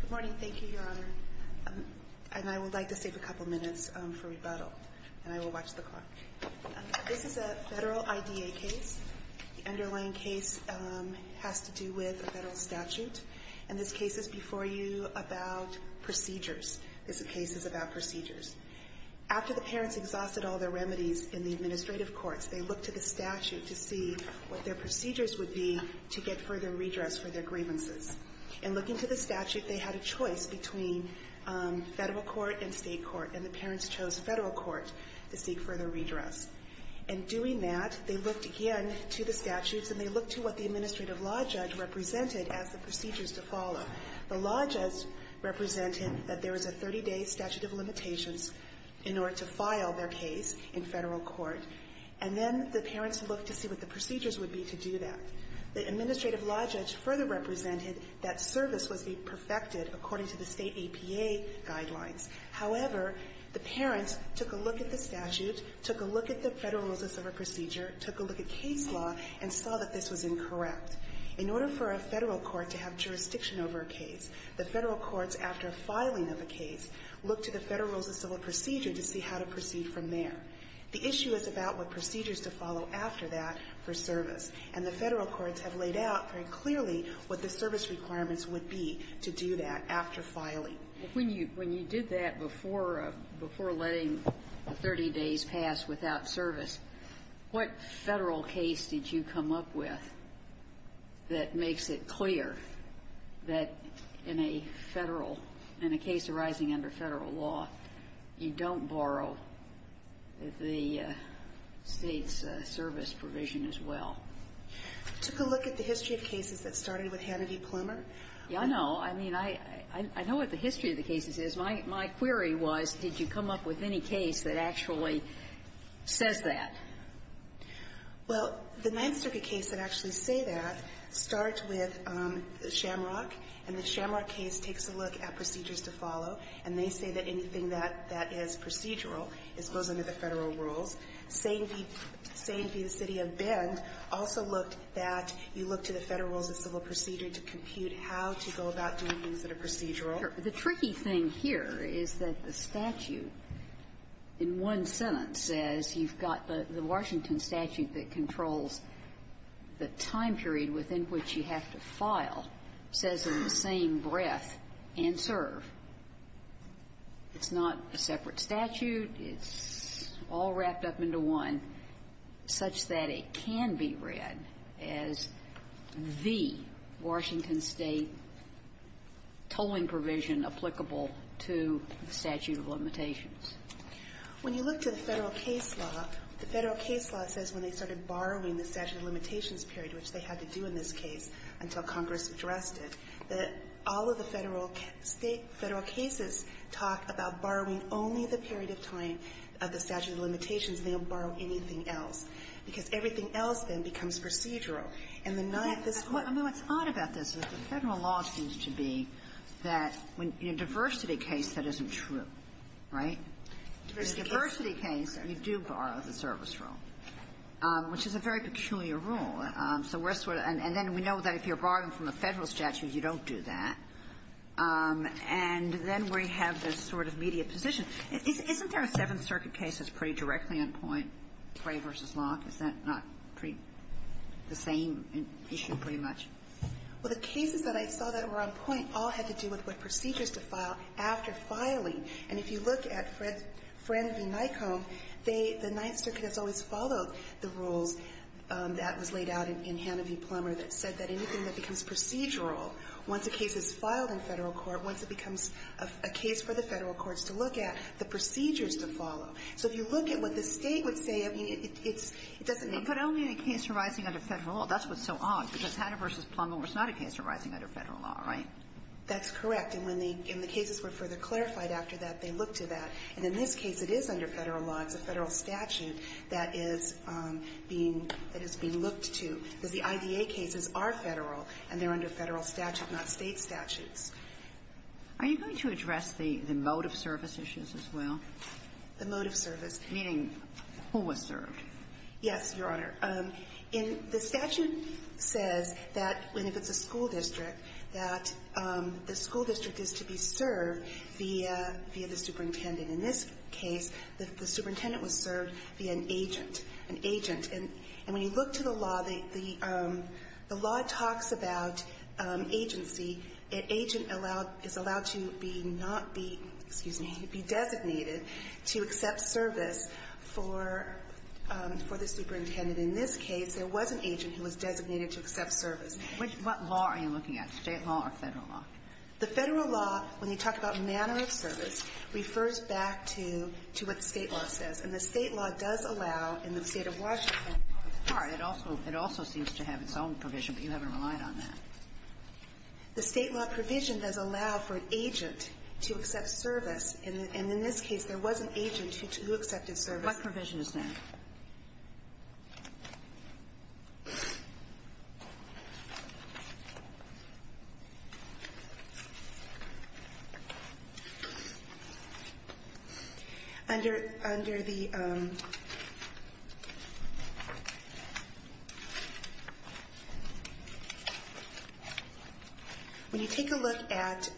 Good morning. Thank you, Your Honor. And I would like to save a couple minutes for rebuttal, and I will watch the clock. This is a federal IDA case. The underlying case has to do with a federal statute. And this case is before you about procedures. This case is about procedures. After the parents exhausted all their remedies in the administrative courts, they looked to the statute to see what their procedures would be to get further redress for their grievances. In looking to the statute, they had a choice between federal court and state court, and the parents chose federal court to seek further redress. In doing that, they looked again to the statutes, and they looked to what the administrative law judge represented as the procedures to follow. The law judge represented that there was a 30-day statute of limitations in order to file their case in federal court, and then the parents looked to see what the procedures would be to do that. The administrative law judge further represented that service was to be perfected according to the state APA guidelines. However, the parents took a look at the statute, took a look at the Federal Rules of Civil Procedure, took a look at case law, and saw that this was incorrect. In order for a federal court to have jurisdiction over a case, the federal courts, after filing of a case, looked to the Federal Rules of Civil Procedure to see how to proceed from there. The issue is about what procedures to follow after that for service. And the federal courts have laid out very clearly what the service requirements would be to do that after filing. When you did that before letting the 30 days pass without service, what federal case did you come up with that makes it clear that in a federal and a case arising under Federal law, you don't borrow the State's service provision as well? I took a look at the history of cases that started with Hannity Plumer. Yeah, I know. I mean, I know what the history of the cases is. My query was, did you come up with any case that actually says that? Well, the Ninth Circuit case that actually say that starts with Shamrock, and the Shamrock case takes a look at procedures to follow. And they say that anything that is procedural goes under the Federal rules. Saint v. City of Bend also looked at, you look to the Federal Rules of Civil Procedure to compute how to go about doing things that are procedural. The tricky thing here is that the statute in one sentence says you've got the Washington Statute that controls the time period within which you have to file, says in the same breath, and serve. It's not a separate statute. It's all wrapped up into one such that it can be read as the Washington State tolling When you look to the Federal case law, the Federal case law says when they started borrowing the statute of limitations period, which they had to do in this case until Congress addressed it, that all of the Federal state, Federal cases talk about borrowing only the period of time of the statute of limitations, and they don't borrow anything else, because everything else then becomes procedural. And the Ninth is quite the opposite. I mean, what's odd about this is the Federal law seems to be that in a diversity case, that isn't true, right? In a diversity case, you do borrow the service rule, which is a very peculiar rule. So we're sort of – and then we know that if you're borrowing from a Federal statute, you don't do that. And then we have this sort of media position. Isn't there a Seventh Circuit case that's pretty directly on point, Clay v. Locke? Is that not pretty – the same issue pretty much? Well, the cases that I saw that were on point all had to do with what procedures to file after filing. And if you look at Fran v. Nycombe, they – the Ninth Circuit has always followed the rules that was laid out in Hanna v. Plummer that said that anything that becomes procedural, once a case is filed in Federal court, once it becomes a case for the Federal courts to look at, the procedures to follow. So if you look at what the State would say, I mean, it's – it doesn't make sense. That's what's so odd, because Hanna v. Plummer was not a case arising under Federal law, right? That's correct. And when the – when the cases were further clarified after that, they looked to that. And in this case, it is under Federal law. It's a Federal statute that is being – that is being looked to, because the IDA cases are Federal, and they're under Federal statute, not State statutes. Are you going to address the mode of service issues as well? The mode of service. Meaning who was served. Yes, Your Honor. In – the statute says that when it's a school district, that the school district is to be served via the superintendent. In this case, the superintendent was served via an agent. An agent. And when you look to the law, the law talks about agency. An agent is allowed to be not be – excuse me – be designated to accept service for the superintendent. In this case, there was an agent who was designated to accept service. What law are you looking at, State law or Federal law? The Federal law, when you talk about manner of service, refers back to what the State law says. And the State law does allow in the State of Washington. All right. It also seems to have its own provision, but you haven't relied on that. The State law provision does allow for an agent to accept service. And in this case, there was an agent who accepted service. What provision is there? Under the – when you take a look at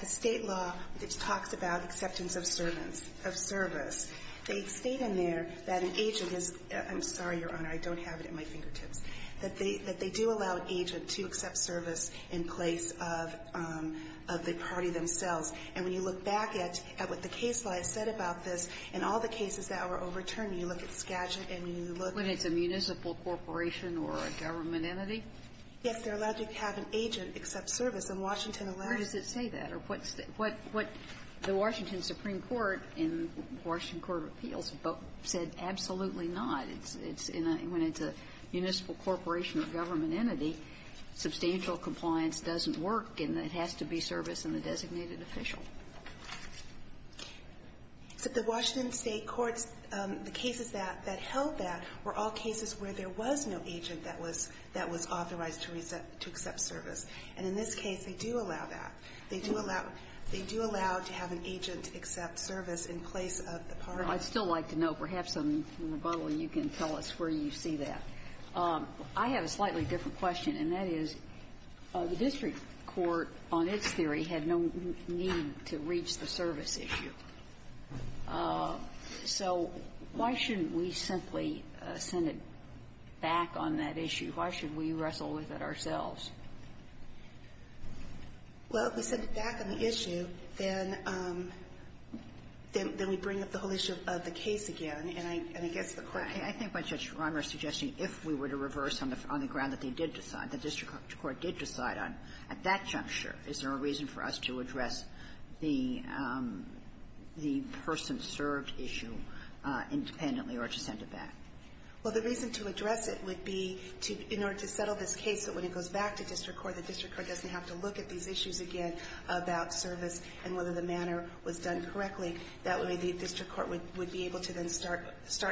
the State law, which talks about acceptance of service, they state in there that an agent is – I'm sorry, Your Honor, I don't have it at my fingertips – that they do allow an agent to accept service in place of the party themselves. And when you look back at what the case law has said about this, in all the cases that were overturned, you look at Skagit and you look at the State law. When it's a municipal corporation or a government entity? Yes. They're allowed to have an agent accept service. And Washington allows it. Where does it say that? Or what's the – what the Washington Supreme Court in Washington Court of Appeals book said? Absolutely not. It's in a – when it's a municipal corporation or government entity, substantial compliance doesn't work, and it has to be service in the designated official. But the Washington State courts, the cases that held that were all cases where there was no agent that was authorized to accept service. And in this case, they do allow that. They do allow to have an agent accept service in place of the party. Your Honor, I'd still like to know. Perhaps in rebuttal you can tell us where you see that. I have a slightly different question, and that is the district court on its theory had no need to reach the service issue. So why shouldn't we simply send it back on that issue? Why should we wrestle with it ourselves? Well, if we send it back on the issue, then we bring up the whole issue of the case again, and I guess the court can't do that. I think what Judge Romer is suggesting, if we were to reverse on the ground that they did decide, the district court did decide on, at that juncture, is there a reason for us to address the person-served issue independently or to send it back? Well, the reason to address it would be to – in order to settle this case that when it goes back to district court, the district court doesn't have to look at these issues again about service and whether the manner was done correctly. That would mean the district court would be able to then start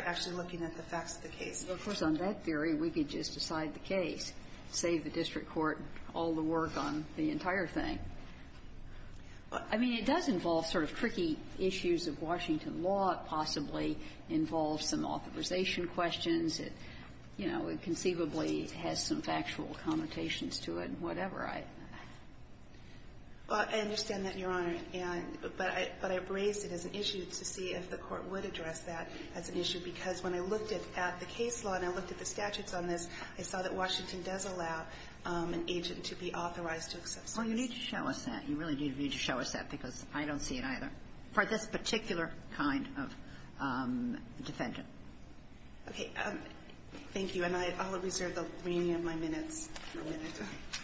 actually looking at the facts of the case. Well, of course, on that theory, we could just decide the case, save the district court all the work on the entire thing. I mean, it does involve sort of tricky issues of Washington law. It possibly involves some authorization questions. It, you know, conceivably has some factual connotations to it and whatever. Well, I understand that, Your Honor, and – but I – but I raised it as an issue to see if the court would address that as an issue, because when I looked at the case law and I looked at the statutes on this, I saw that Washington does allow an agent to be authorized to accept service. Well, you need to show us that. You really do need to show us that, because I don't see it either for this particular kind of defendant. Okay. Thank you. And I'll reserve the remaining of my minutes for a minute. Thank you.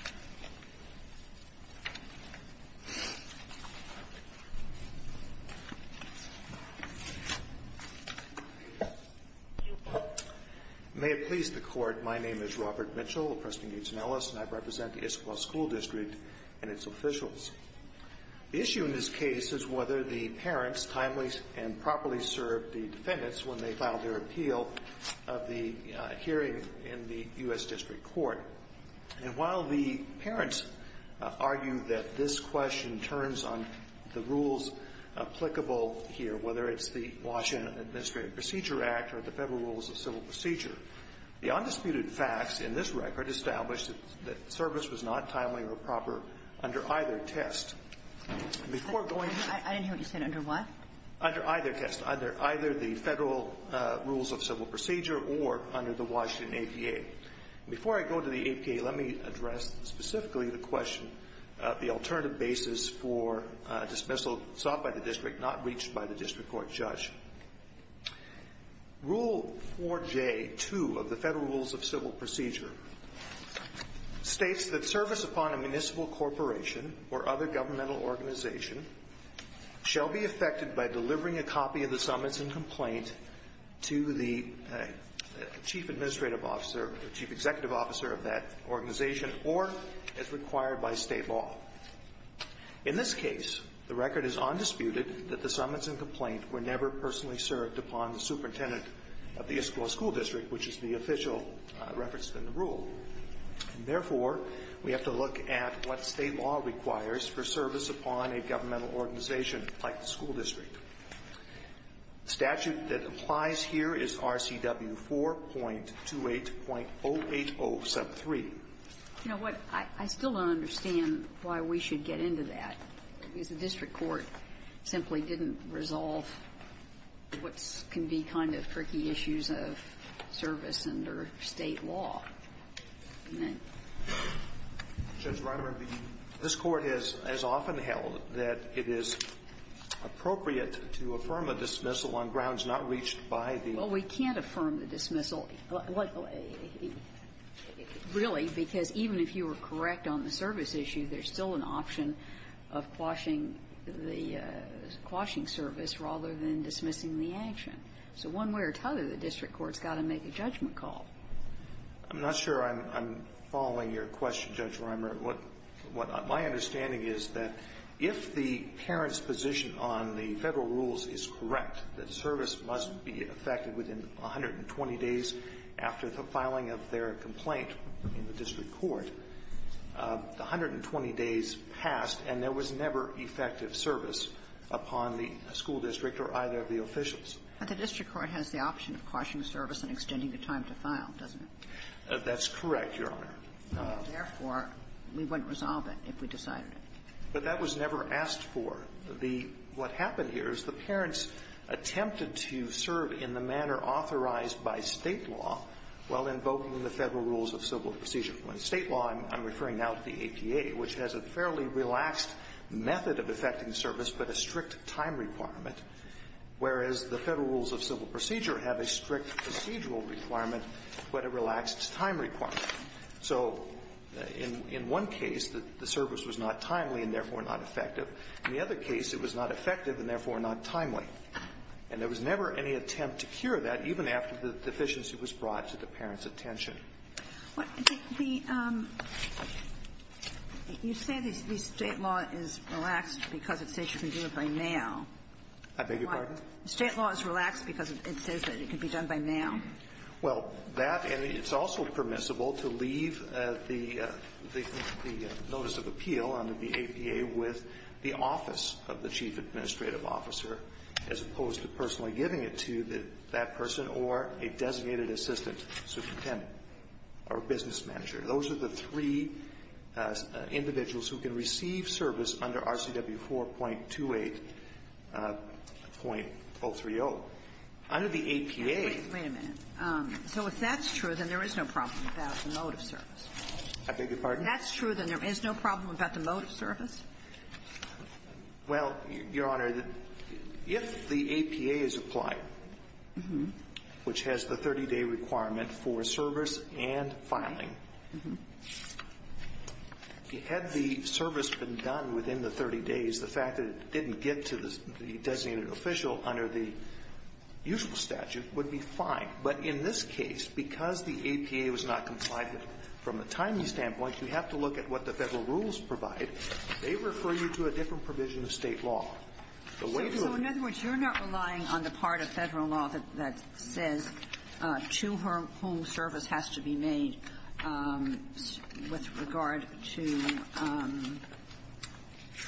May it please the Court, my name is Robert Mitchell of Preston, Gates & Ellis, and I represent the Issaquah School District and its officials. The issue in this case is whether the parents timely and properly served the defendants when they filed their appeal of the hearing in the U.S. District Court. And while the parents argue that this question turns on the rules applicable here, whether it's the Washington Administrative Procedure Act or the Federal Rules of Civil Procedure, the undisputed facts in this record establish that service was not timely or proper under either test. I didn't hear what you said. Under what? Under either test. Under either the Federal Rules of Civil Procedure or under the Washington APA. Before I go to the APA, let me address specifically the question of the alternative basis for dismissal sought by the district, not reached by the district court judge. Rule 4J-2 of the Federal Rules of Civil Procedure states that service upon a municipal corporation or other governmental organization shall be effected by delivering a copy of the summons and complaint to the chief executive officer of that organization or, as required by state law. In this case, the record is undisputed that the summons and complaint were never personally served upon the superintendent of the Issaquah School District, which is the official reference in the rule. And therefore, we have to look at what state law requires for service upon a governmental organization like the school district. The statute that applies here is RCW 4.28.08073. You know what? I still don't understand why we should get into that, because the district court simply didn't resolve what can be kind of tricky issues of service under state law. And then ---- Roberts. This Court has often held that it is appropriate to affirm a dismissal on grounds not reached by the ---- Well, we can't affirm the dismissal, really, because even if you were correct on the service issue, there's still an option of quashing the ---- quashing service rather than dismissing the action. So one way or another, the district court's got to make a judgment call. I'm not sure I'm following your question, Judge Rimer. What my understanding is that if the parent's position on the Federal rules is correct, that service must be effected within 120 days after the filing of their complaint in the district court. The 120 days passed, and there was never effective service upon the school district or either of the officials. But the district court has the option of quashing service and extending the time to file, doesn't it? That's correct, Your Honor. Therefore, we wouldn't resolve it if we decided it. But that was never asked for. The ---- what happened here is the parents attempted to serve in the manner authorized by State law while invoking the Federal rules of civil procedure. By State law, I'm referring now to the APA, which has a fairly relaxed method of effecting service but a strict time requirement, whereas the Federal rules of civil procedure have a strict procedural requirement but a relaxed time requirement. So in one case, the service was not timely and therefore not effective. In the other case, it was not effective and therefore not timely. And there was never any attempt to cure that, even after the deficiency was brought to the parents' attention. But the ---- you say the State law is relaxed because it says you can do it by now. I beg your pardon? The State law is relaxed because it says that it can be done by now. Well, that ---- and it's also permissible to leave the notice of appeal under the APA with the office of the chief administrative officer, as opposed to personally giving it to that person or a designated assistant superintendent or business manager. Those are the three individuals who can receive service under RCW 4.28.030. Under the APA ---- Wait a minute. So if that's true, then there is no problem about the mode of service. I beg your pardon? If that's true, then there is no problem about the mode of service? Well, Your Honor, if the APA is applied, which has the 30-day requirement for service and filing, had the service been done within the 30 days, the fact that it didn't get to the designated official under the usual statute would be fine. But in this case, because the APA was not compliant with it, from a timely standpoint, you have to look at what the Federal rules provide. They refer you to a different provision of State law. The way you're ---- So in other words, you're not relying on the part of Federal law that says to whom service has to be made with regard to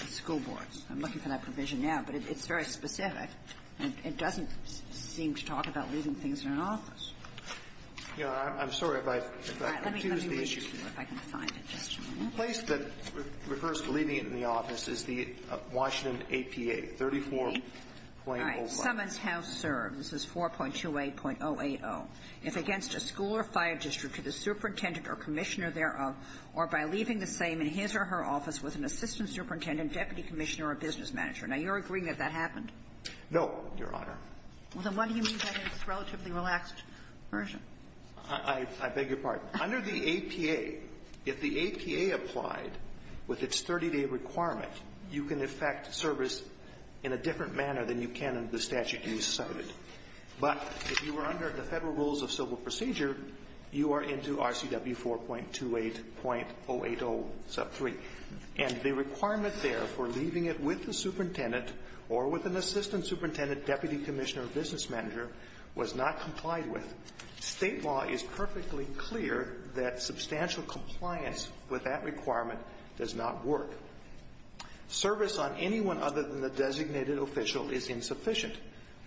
school boards. I'm looking for that provision now, but it's very specific. It doesn't seem to talk about leaving things in an office. Your Honor, I'm sorry if I've confused the issue. All right. Let me read to you if I can find it. Just a moment. The place that refers to leaving it in the office is the Washington APA, 34.08. All right. Summons House serves. This is 4.28.080. If against a school or fire district to the superintendent or commissioner thereof, or by leaving the same in his or her office with an assistant superintendent, deputy commissioner, or business manager. Now, you're agreeing that that happened? No, Your Honor. Then what do you mean by this relatively relaxed version? I beg your pardon. Under the APA, if the APA applied with its 30-day requirement, you can effect service in a different manner than you can in the statute you cited. But if you are under the Federal rules of civil procedure, you are into RCW 4.28.080 sub 3. And the requirement there for leaving it with the superintendent or with an assistant superintendent, deputy commissioner, or business manager was not complied with. State law is perfectly clear that substantial compliance with that requirement does not work. Service on anyone other than the designated official is insufficient.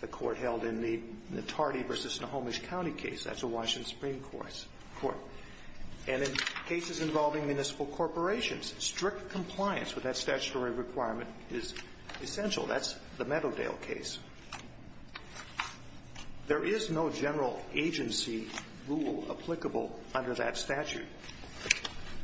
The Court held in the Notardi v. Snohomish County case. That's a Washington Supreme Court. And in cases involving municipal corporations, strict compliance with that statutory requirement is essential. That's the Meadowdale case. There is no general agency rule applicable under that statute.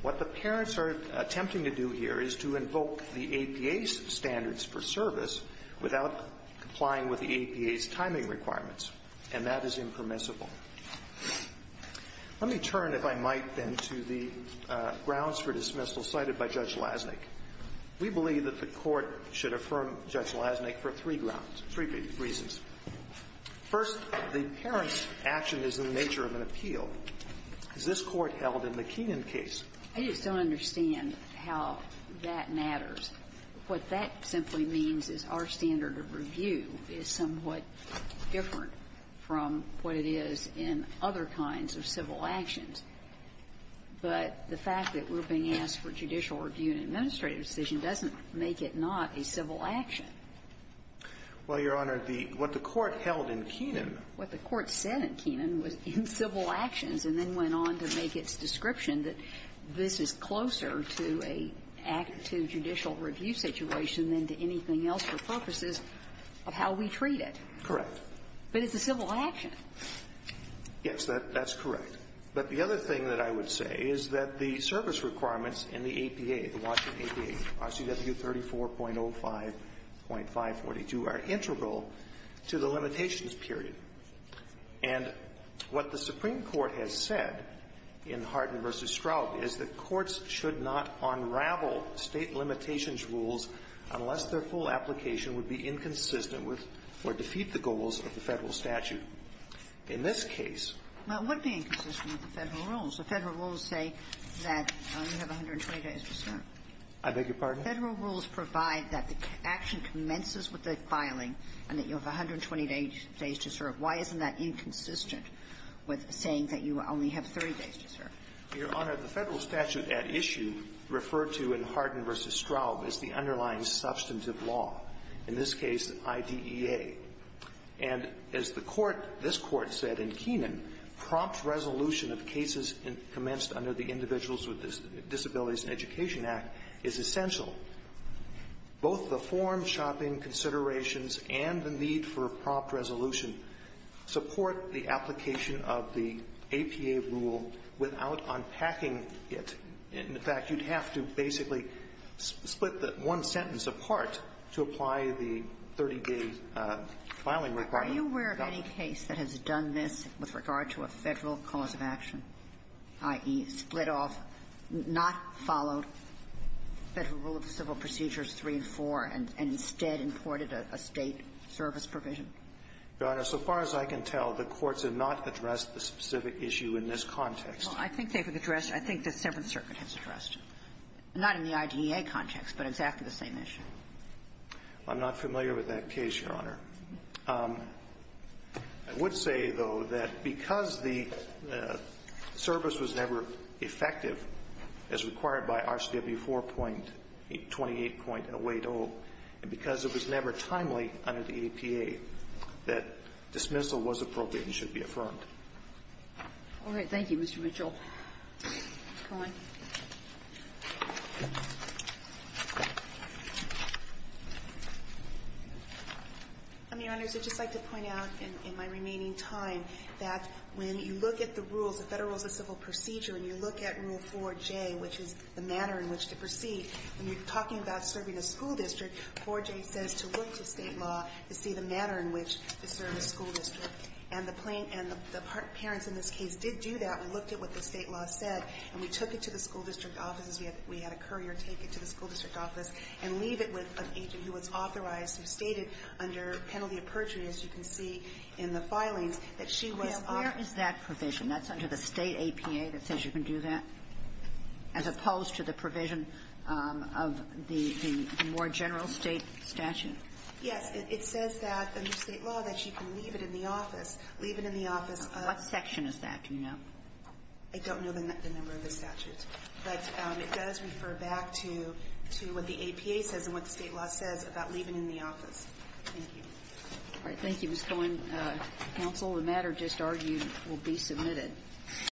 What the parents are attempting to do here is to invoke the APA's standards for service without complying with the APA's timing requirements, and that is impermissible. Let me turn, if I might, then, to the grounds for dismissal cited by Judge Lasnik. We believe that the Court should affirm Judge Lasnik for three grounds, three reasons. First, the parents' action is in the nature of an appeal. As this Court held in the Keenan case. I just don't understand how that matters. What that simply means is our standard of review is somewhat different from what it is in other kinds of civil actions. But the fact that we're being asked for judicial review and administrative decision doesn't make it not a civil action. Well, Your Honor, the what the Court held in Keenan. What the Court said in Keenan was in civil actions, and then went on to make its description that this is closer to a act to judicial review situation than to anything else for purposes of how we treat it. Correct. But it's a civil action. Yes, that's correct. But the other thing that I would say is that the service requirements in the APA, the Washington APA, RCW 34.05.542, are integral to the limitations period. And what the Supreme Court has said in Hardin v. Stroup is that courts should not unravel State limitations rules unless their full application would be inconsistent with or defeat the goals of the Federal statute. In this case ---- Well, it would be inconsistent with the Federal rules. The Federal rules say that you have 120 days to serve. I beg your pardon? Federal rules provide that the action commences with the filing and that you have 120 days to serve. Why isn't that inconsistent with saying that you only have 30 days to serve? Your Honor, the Federal statute at issue referred to in Hardin v. Stroup is the underlying substantive law. In this case, IDEA. And as the Court ---- this Court said in Keenan, prompt resolution of cases commenced under the Individuals with Disabilities and Education Act is essential. Both the form shopping considerations and the need for a prompt resolution support the application of the APA rule without unpacking it. In fact, you'd have to basically split the one sentence apart to apply the 30-day filing requirement. Are you aware of any case that has done this with regard to a Federal cause of action, i.e., split off, not followed Federal rule of civil procedures 3 and 4, and instead imported a State service provision? Your Honor, so far as I can tell, the courts have not addressed the specific issue in this context. Well, I think they've addressed it. I think the Seventh Circuit has addressed it. Not in the IDEA context, but exactly the same issue. I'm not familiar with that case, Your Honor. I would say, though, that because the service was never effective as required by RCW 4.28.08O, and because it was never timely under the APA, that dismissal was appropriate and should be affirmed. All right. Thank you, Mr. Mitchell. Go ahead. I mean, Your Honors, I'd just like to point out in my remaining time that when you look at the rules, the Federal rules of civil procedure, and you look at Rule 4J, which is the manner in which to proceed, when you're talking about serving a school district, and the parents in this case did do that, and looked at what the State law said, and we took it to the school district offices. We had a courier take it to the school district office and leave it with an agent who was authorized, who stated under penalty of perjury, as you can see in the filings, that she was authorized. Now, where is that provision? That's under the State APA that says you can do that, as opposed to the provision of the more general State statute? Yes. It says that under State law that you can leave it in the office. Leave it in the office. What section is that? Do you know? I don't know the number of the statutes. But it does refer back to what the APA says and what the State law says about leaving it in the office. Thank you. All right. Thank you, Ms. Cohen. Counsel, the matter just argued will be submitted.